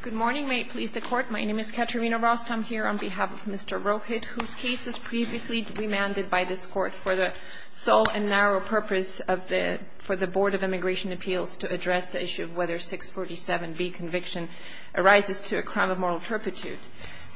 Good morning. May it please the court, my name is Katarina Rost. I'm here on behalf of Mr. Rohit, whose case was previously remanded by this court for the sole and narrow purpose of the Board of Immigration Appeals to address the issue of whether 647B conviction arises to a crime of moral turpitude.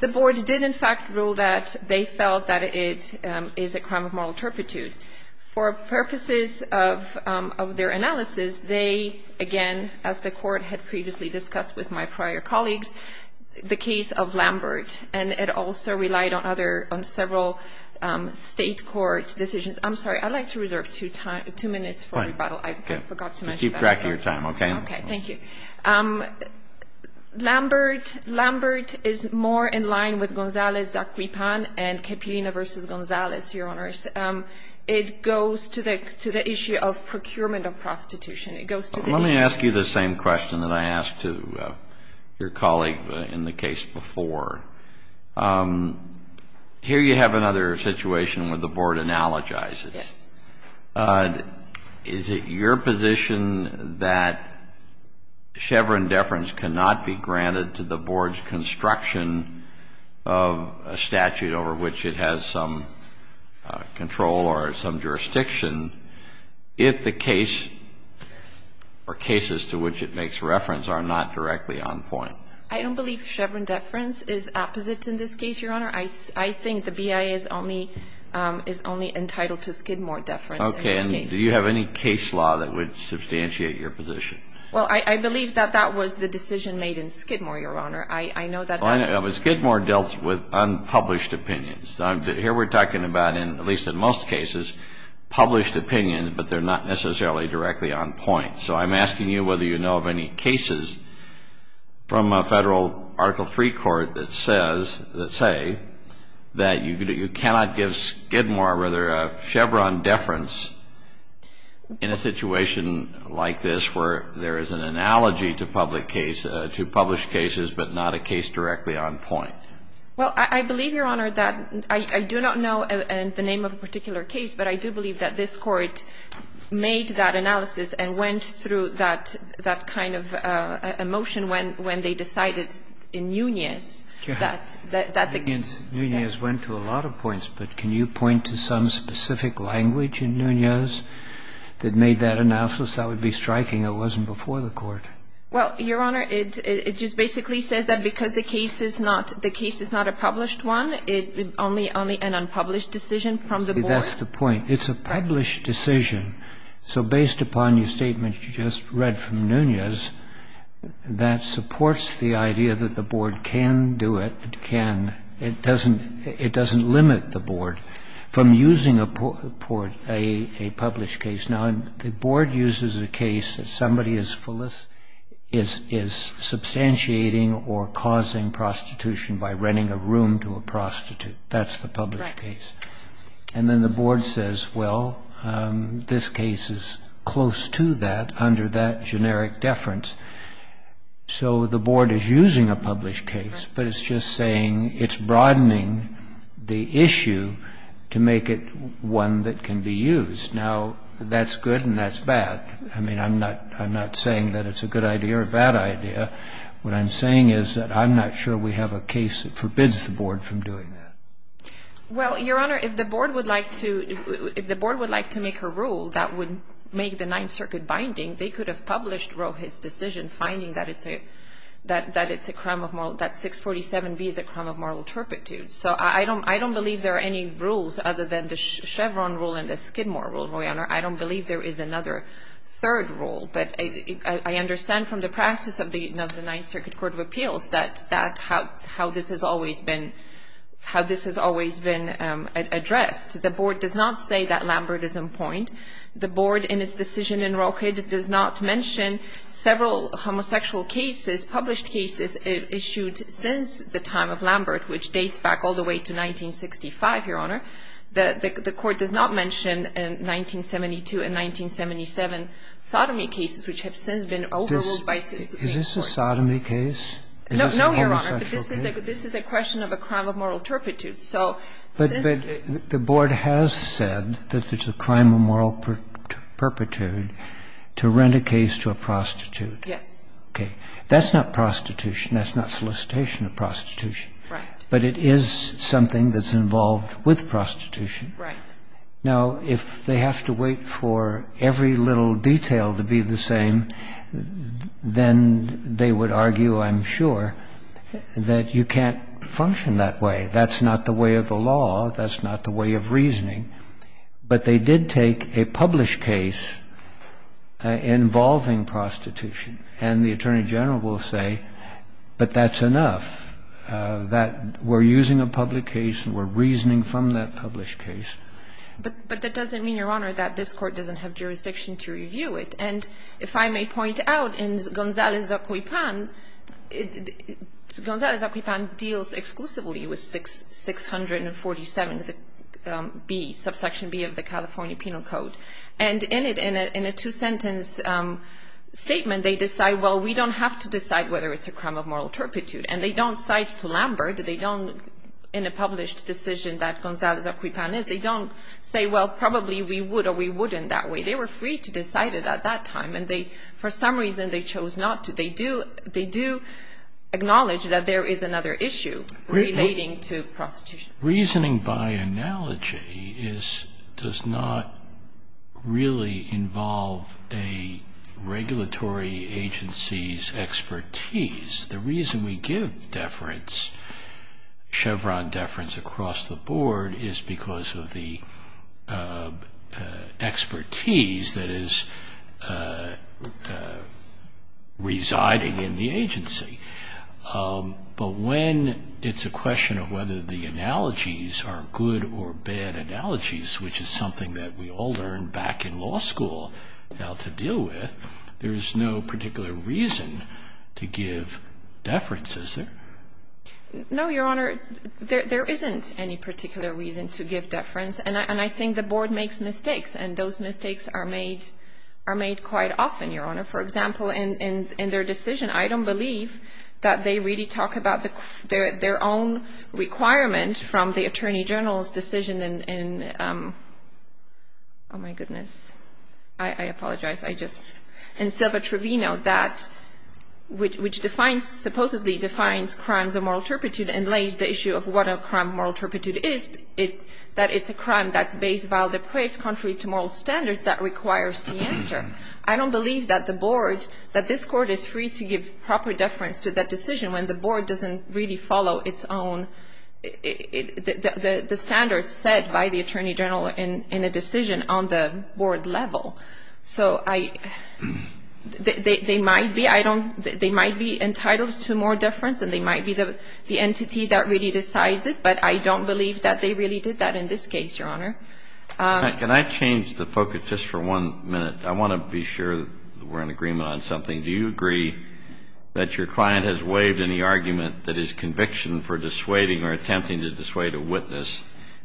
The board did, in fact, rule that they felt that it is a crime of moral turpitude. For purposes of their analysis, they, again, as the court had previously discussed with my prior colleagues, the case of Lambert. And it also relied on several state court decisions. I'm sorry, I'd like to reserve two minutes for rebuttal. I forgot to mention that. Just keep track of your time, OK? OK, thank you. Lambert is more in line with Gonzalez-Zaquipan and Capilina versus Gonzalez, Your Honors. It goes to the issue of procurement of prostitution. Let me ask you the same question that I asked to your colleague in the case before. Here you have another situation where the board analogizes. Yes. Is it your position that Chevron deference cannot be granted to the board's construction of a statute over which it has some control or some or cases to which it makes reference are not directly on point? I don't believe Chevron deference is opposite in this case, Your Honor. I think the BIA is only entitled to Skidmore deference in this case. OK. And do you have any case law that would substantiate your position? Well, I believe that that was the decision made in Skidmore, Your Honor. I know that that's Well, Skidmore dealt with unpublished opinions. Here we're talking about, at least in most cases, published opinions, but they're not necessarily directly on point. So I'm asking you whether you know of any cases from a federal Article III court that say that you cannot give Skidmore, or rather Chevron deference, in a situation like this where there is an analogy to published cases, but not a case directly on point. Well, I believe, Your Honor, that I do not know the name of a particular case, but I do believe that this Court made that analysis and went through that kind of a motion when they decided in Nunez that the case Nunez went to a lot of points, but can you point to some specific language in Nunez that made that analysis that would be striking that wasn't before the Court? Well, Your Honor, it just basically says that because the case is not a published one, it's only an unpublished decision from the board. That's the point. It's a published decision. So based upon your statement you just read from Nunez, that supports the idea that the board can do it, can. It doesn't limit the board from using a published case. Now, the board uses a case that somebody is substantiating or causing prostitution by renting a room to a prostitute. That's the published case. And then the board says, well, this case is close to that under that generic deference, so the board is using a published case, but it's just saying it's broadening the issue to make it one that can be used. Now, that's good and that's bad. I mean, I'm not saying that it's a good idea or a bad idea. What I'm saying is that I'm not sure we have a case that forbids the board from doing that. Well, Your Honor, if the board would like to make a rule that would make the Ninth Circuit binding, they could have published Rohit's decision finding that 647B is a crime of moral turpitude. So I don't believe there are any rules other than the Chevron rule and the Skidmore rule, Your Honor. I don't believe there is another third rule. But I understand from the practice of the Ninth Circuit Court of Appeals that how this has always been addressed. The board does not say that Lambert is in point. The board in its decision in Rohit does not mention several homosexual cases, published cases issued since the time of Lambert, which dates back all the way to 1965, Your Honor. The court does not mention 1972 and 1977 sodomy cases, which have since been overruled by 648. Is this a sodomy case? No, Your Honor. But this is a question of a crime of moral turpitude. So since the board has said that it's a crime of moral turpitude to rent a case to a prostitute. Yes. Okay. That's not prostitution. That's not solicitation of prostitution. Right. But it is something that's involved with prostitution. Right. Now, if they have to wait for every little detail to be the same, then they would argue, I'm sure, that you can't function that way. That's not the way of the law. That's not the way of reasoning. But they did take a published case involving prostitution. And the Attorney General will say, but that's enough. That we're using a public case and we're reasoning from that published case. But that doesn't mean, Your Honor, that this Court doesn't have jurisdiction to review it. And if I may point out, in Gonzales-Aquipan, Gonzales-Aquipan deals exclusively with 647B, subsection B of the California Penal Code. And in a two-sentence statement, they decide, well, we don't have to decide whether it's a crime of moral turpitude. And they don't cite to Lambert. They don't, in a published decision that Gonzales-Aquipan is, they don't say, well, probably we would or we wouldn't that way. They were free to decide it at that time. And they, for some reason, they chose not to. They do acknowledge that there is another issue relating to prostitution. Reasoning by analogy does not really involve a regulatory agency's expertise. The reason we give deference, Chevron deference, across the board is because of the expertise that is residing in the agency. But when it's a question of whether the analogies are good or bad analogies, which is something that we all learned back in law school how to deal with, there's no particular reason to give deference, is there? No, Your Honor. There isn't any particular reason to give deference. And I think the board makes mistakes. And those mistakes are made quite often, Your Honor. For example, in their decision, I don't believe that they really talk about their own requirement from the attorney general's decision in, oh, my goodness. I apologize. In Silva-Trevino, which supposedly defines crimes of moral turpitude and lays the issue of what a crime of moral turpitude is, that it's a crime that's based vile depraved, contrary to moral standards, that requires scienter. I don't believe that this court is free to give proper deference to that decision when the board doesn't really follow the standards set by the attorney general in a decision on the board level. So they might be entitled to more deference. And they might be the entity that really decides it. But I don't believe that they really did that in this case, Your Honor. Can I change the focus just for one minute? I want to be sure that we're in agreement on something. Do you agree that your client has waived any argument that his conviction for dissuading or attempting to dissuade a witness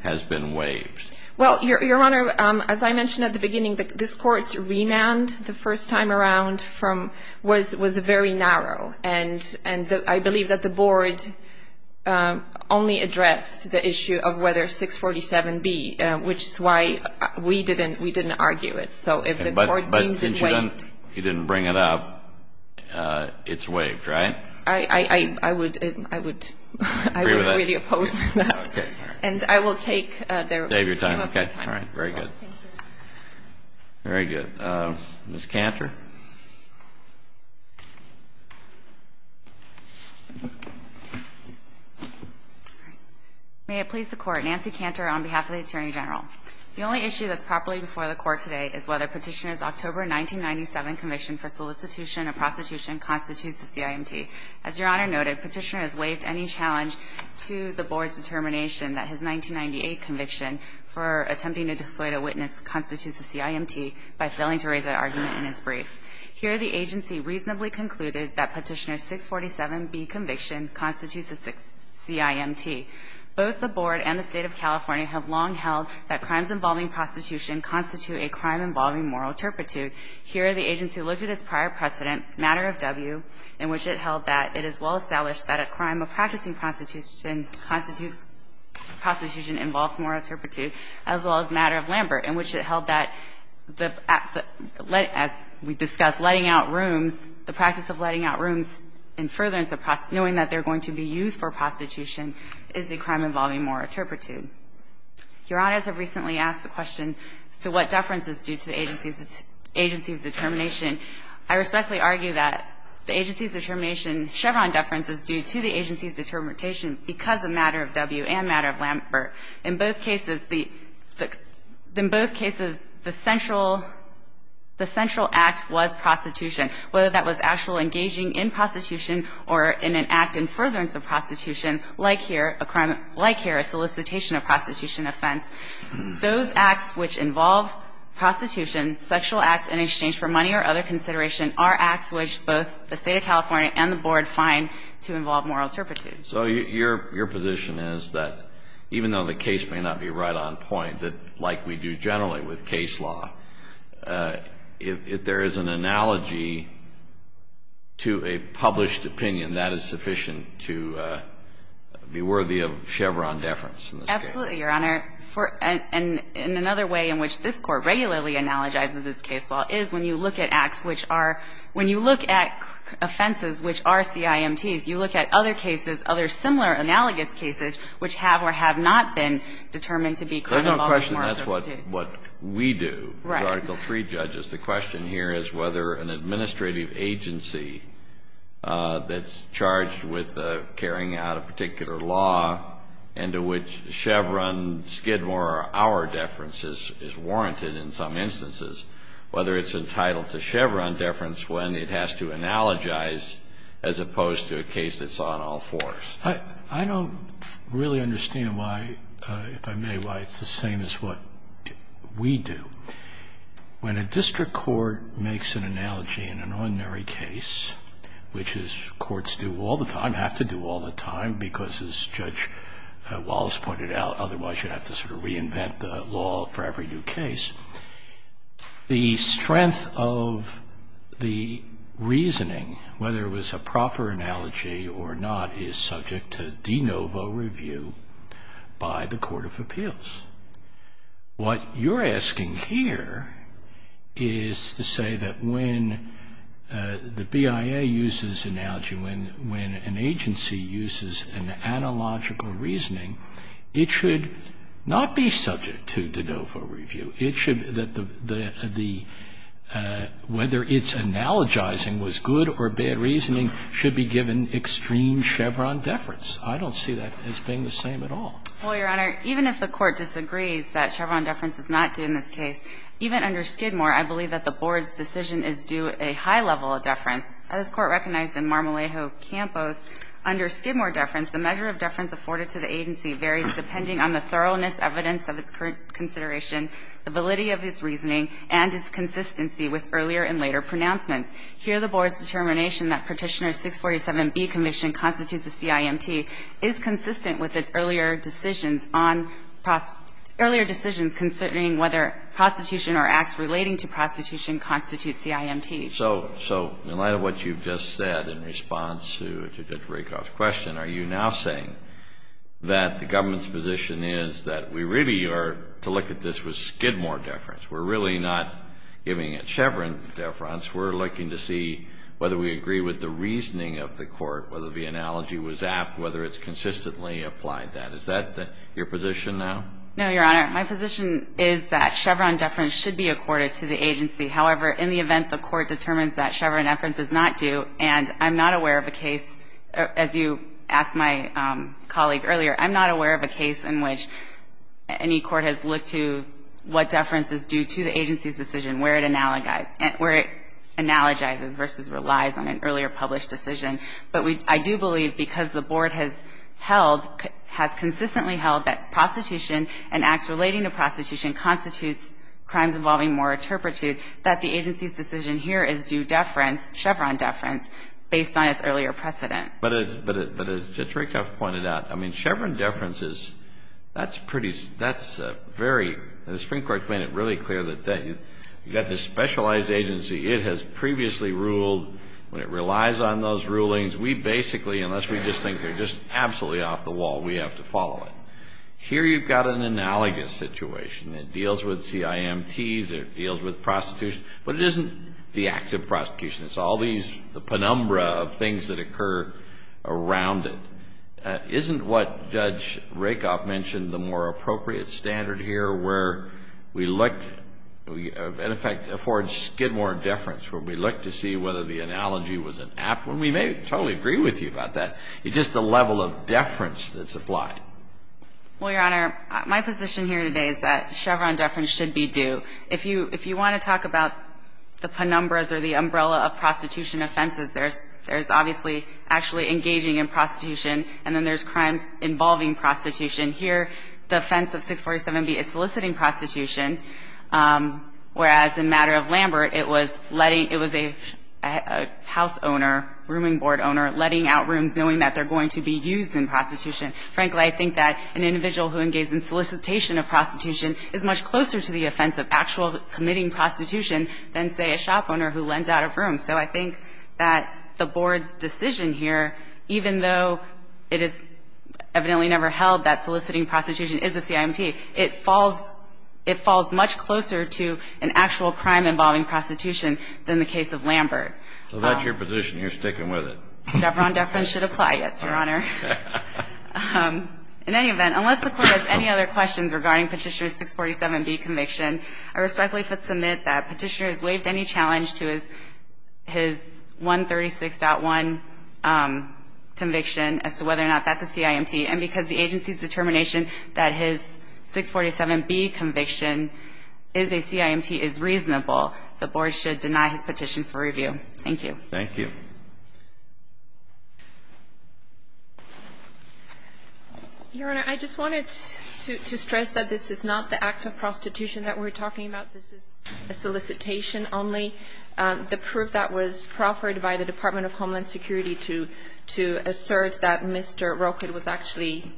has been waived? Well, Your Honor, as I mentioned at the beginning, this court's remand, the first time around, was very narrow. And I believe that the board only addressed the issue of whether 647B, which is why we didn't argue it. So if the court deems it waived. If you didn't bring it up, it's waived, right? I would really oppose that. And I will take their time. Okay, all right. Very good. Very good. Ms. Cantor. May it please the court. Nancy Cantor on behalf of the attorney general. The only issue that's properly before the court today is whether Petitioner's October 1997 commission for solicitation of prostitution constitutes the CIMT. As Your Honor noted, Petitioner has waived any challenge to the board's determination that his 1998 conviction for attempting to dissuade a witness constitutes the CIMT by failing to raise that argument in his brief. Here the agency reasonably concluded that Petitioner's 647B conviction constitutes the CIMT. Both the board and the state of California have long held that crimes involving prostitution constitute a crime involving moral turpitude. Here the agency looked at its prior precedent, matter of W, in which it held that it is well established that a crime of practicing prostitution constitutes prostitution involves moral turpitude, as well as matter of Lambert, in which it held that the, as we discussed, letting out rooms, the practice of letting out rooms in furtherance of knowing that they're going to be used for prostitution is a crime involving moral turpitude. Your Honors have recently asked the question, so what deference is due to the agency's determination? I respectfully argue that the agency's determination, Chevron deference, is due to the agency's determination because of matter of W and matter of Lambert. In both cases, the, in both cases, the central, the central act was prostitution. Whether that was actual engaging in prostitution or in an act in furtherance of prostitution, like here, a crime, like here, a solicitation of prostitution offense, those acts which involve prostitution, sexual acts in exchange for money or other consideration, are acts which both the State of California and the Board find to involve moral turpitude. So your, your position is that even though the case may not be right on point, that like we do generally with case law, if there is an analogy to a published opinion, that is sufficient to be worthy of Chevron deference in this case? Absolutely, Your Honor. For, and another way in which this Court regularly analogizes this case law is when you look at acts which are, when you look at offenses which are CIMTs, you look at other cases, other similar analogous cases, which have or have not been determined to be crime involving moral turpitude. There's no question that's what, what we do, the Article III judges. Right. The question here is whether an administrative agency that's charged with carrying out a particular law and to which Chevron, Skidmore or our deference is, is warranted in some instances, whether it's entitled to Chevron deference when it has to analogize as opposed to a case that's on all fours. I don't really understand why, if I may, why it's the same as what we do. When a district court makes an analogy in an ordinary case, which is courts do all the time, have to do all the time, because as Judge Wallace pointed out, otherwise you'd have to sort of reinvent the law for every new case. The strength of the reasoning, whether it was a proper analogy or not, is subject to de novo review by the Court of Appeals. What you're asking here is to say that when the BIA uses analogy, when an agency uses an analogical reasoning, it should not be subject to de novo review. It should, that the, whether its analogizing was good or bad reasoning should be given extreme Chevron deference. I don't see that as being the same at all. Well, Your Honor, even if the Court disagrees that Chevron deference is not due in this case, even under Skidmore, I believe that the Board's decision is due a high level of deference. As this Court recognized in Marmolejo-Campos, under Skidmore deference, the measure of deference afforded to the agency varies depending on the thoroughness, evidence of its current consideration, the validity of its reasoning, and its consistency with earlier and later pronouncements. Here, the Board's determination that Petitioner 647b, Commission, constitutes a CIMT is consistent with its earlier decisions on, earlier decisions concerning whether prostitution or acts relating to prostitution constitute CIMT. So in light of what you've just said in response to Judge Rakoff's question, are you now saying that the government's position is that we really are, to look at this with Skidmore deference, we're really not giving it Chevron deference, we're looking to see whether we agree with the reasoning of the Court, whether the analogy was apt, whether it's consistently applied that. Is that your position now? No, Your Honor. My position is that Chevron deference should be accorded to the agency. However, in the event the Court determines that Chevron deference is not due, and I'm not aware of a case, as you asked my colleague earlier, I'm not aware of a case in which any court has looked to what deference is due to the agency's decision, where it analogizes, where it analogizes versus relies on an earlier published decision. But I do believe because the Board has held, has consistently held that prostitution and acts relating to prostitution constitutes crimes involving more turpitude, that the agency's decision here is due deference, Chevron deference, based on its earlier precedent. But as Judge Rakoff pointed out, I mean, Chevron deference is, that's pretty, that's a very, the Supreme Court's made it really clear that you've got this specialized agency, it has previously ruled, when it relies on those rulings, we basically, unless we just think they're just absolutely off the wall, we have to follow it. Here you've got an analogous situation. It deals with CIMTs, it deals with prostitution, but it isn't the act of prostitution. It's all these, the penumbra of things that occur around it. Isn't what Judge Rakoff mentioned the more appropriate standard here, where we look, in effect, affords Skidmore deference, where we look to see whether the analogy was an apt one? We may totally agree with you about that. It's just the level of deference that's applied. Well, Your Honor, my position here today is that Chevron deference should be due. If you want to talk about the penumbras or the umbrella of prostitution offenses, there's obviously actually engaging in prostitution, and then there's crimes involving prostitution. Here, the offense of 647B is soliciting prostitution, whereas in matter of Lambert, it was letting, it was a house owner, rooming board owner, letting out rooms, knowing that they're going to be used in prostitution. Frankly, I think that an individual who engages in solicitation of prostitution is much closer to the offense of actual committing prostitution than, say, a shop owner who lends out a room. So I think that the Board's decision here, even though it is evidently never held that soliciting prostitution is a CIMT, it falls, it falls much closer to an actual crime involving prostitution than the case of Lambert. So that's your position. You're sticking with it. Debron Dufferin should apply. Yes, Your Honor. In any event, unless the Court has any other questions regarding Petitioner's 647B conviction, I respectfully submit that Petitioner has waived any challenge to his 136.1 conviction as to whether or not that's a CIMT. And because the agency's determination that his 647B conviction is a CIMT is reasonable, the Board should deny his petition for review. Thank you. Your Honor, I just wanted to stress that this is not the act of prostitution that we're talking about. This is a solicitation only. The proof that was proffered by the Department of Homeland Security to assert that Mr. Roquet was actually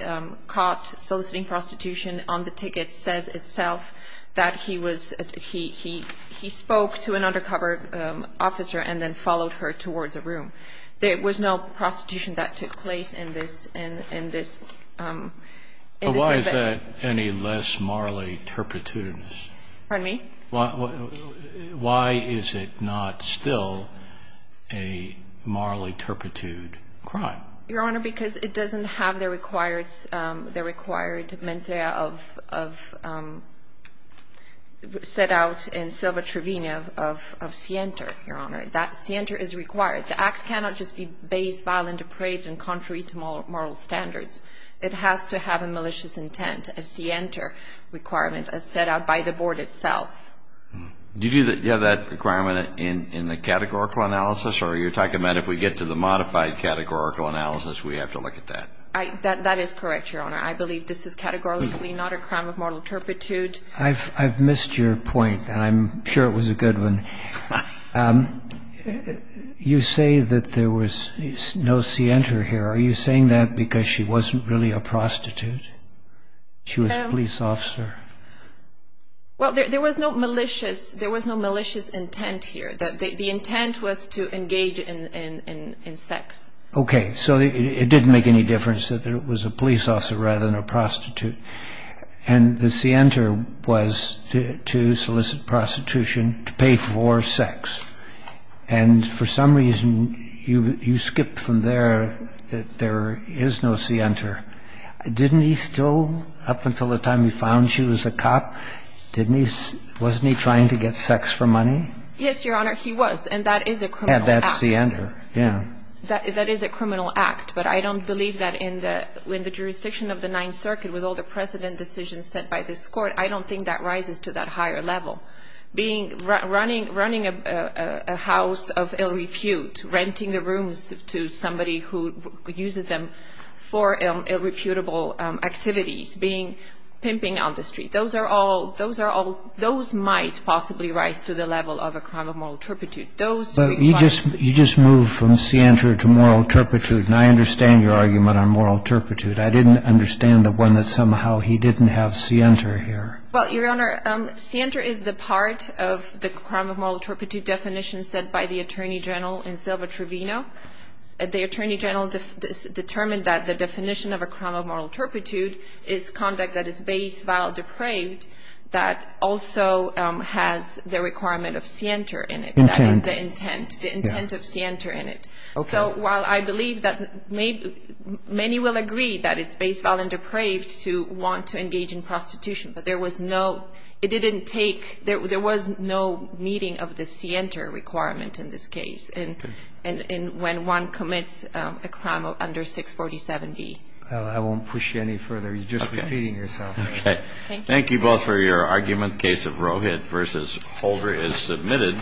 caught soliciting prostitution on the ticket says itself that he was, he spoke to an undercover officer and then followed her. He followed her towards a room. There was no prostitution that took place in this, in this, in this event. But why is that any less morally turpitude? Pardon me? Why is it not still a morally turpitude crime? Your Honor, because it doesn't have the required, the required mens rea of, of set out in Silva Trevino of, of, of scienter, Your Honor. That scienter is required. The act cannot just be based, violent, depraved and contrary to moral standards. It has to have a malicious intent, a scienter requirement as set out by the Board itself. Do you have that requirement in, in the categorical analysis or are you talking about if we get to the modified categorical analysis, we have to look at that? I, that, that is correct, Your Honor. I believe this is categorically not a crime of moral turpitude. I've, I've missed your point and I'm sure it was a good one. You say that there was no scienter here. Are you saying that because she wasn't really a prostitute? She was a police officer. Well, there, there was no malicious, there was no malicious intent here. The, the intent was to engage in, in, in sex. Okay. So it didn't make any difference that it was a police officer rather than a prostitute. And the scienter was to, to solicit prostitution, to pay for sex. And for some reason, you, you skipped from there that there is no scienter. Didn't he still, up until the time he found she was a cop, didn't he, wasn't he trying to get sex for money? Yes, Your Honor, he was, and that is a criminal act. And that's scienter, yeah. That, that is a criminal act, but I don't believe that in the, in the jurisdiction of the Ninth Circuit, with all the precedent decisions set by this Court, I don't think that rises to that higher level. Being, running, running a, a house of ill repute, renting the rooms to somebody who uses them for ill, ill-reputable activities, being, pimping on the street, those are all, those are all, those might possibly rise to the level of a crime of moral turpitude. Those would be crimes of moral turpitude. You just, you just moved from scienter to moral turpitude, and I understand your argument on moral turpitude. I didn't understand the one that somehow he didn't have scienter here. Well, Your Honor, scienter is the part of the crime of moral turpitude definition set by the Attorney General in Silva-Trevino. The Attorney General determined that the definition of a crime of moral turpitude is conduct that is base, vile, depraved, that also has the requirement of scienter in it. Intent. That is the intent, the intent of scienter in it. Okay. So while I believe that many, many will agree that it's base, vile, and depraved to want to engage in prostitution, but there was no, it didn't take, there was no meeting of the scienter requirement in this case, and when one commits a crime under 647B. I won't push you any further, you're just repeating yourself. Okay. Thank you. Thank you both for your argument. The case of Rohit v. Holder is submitted.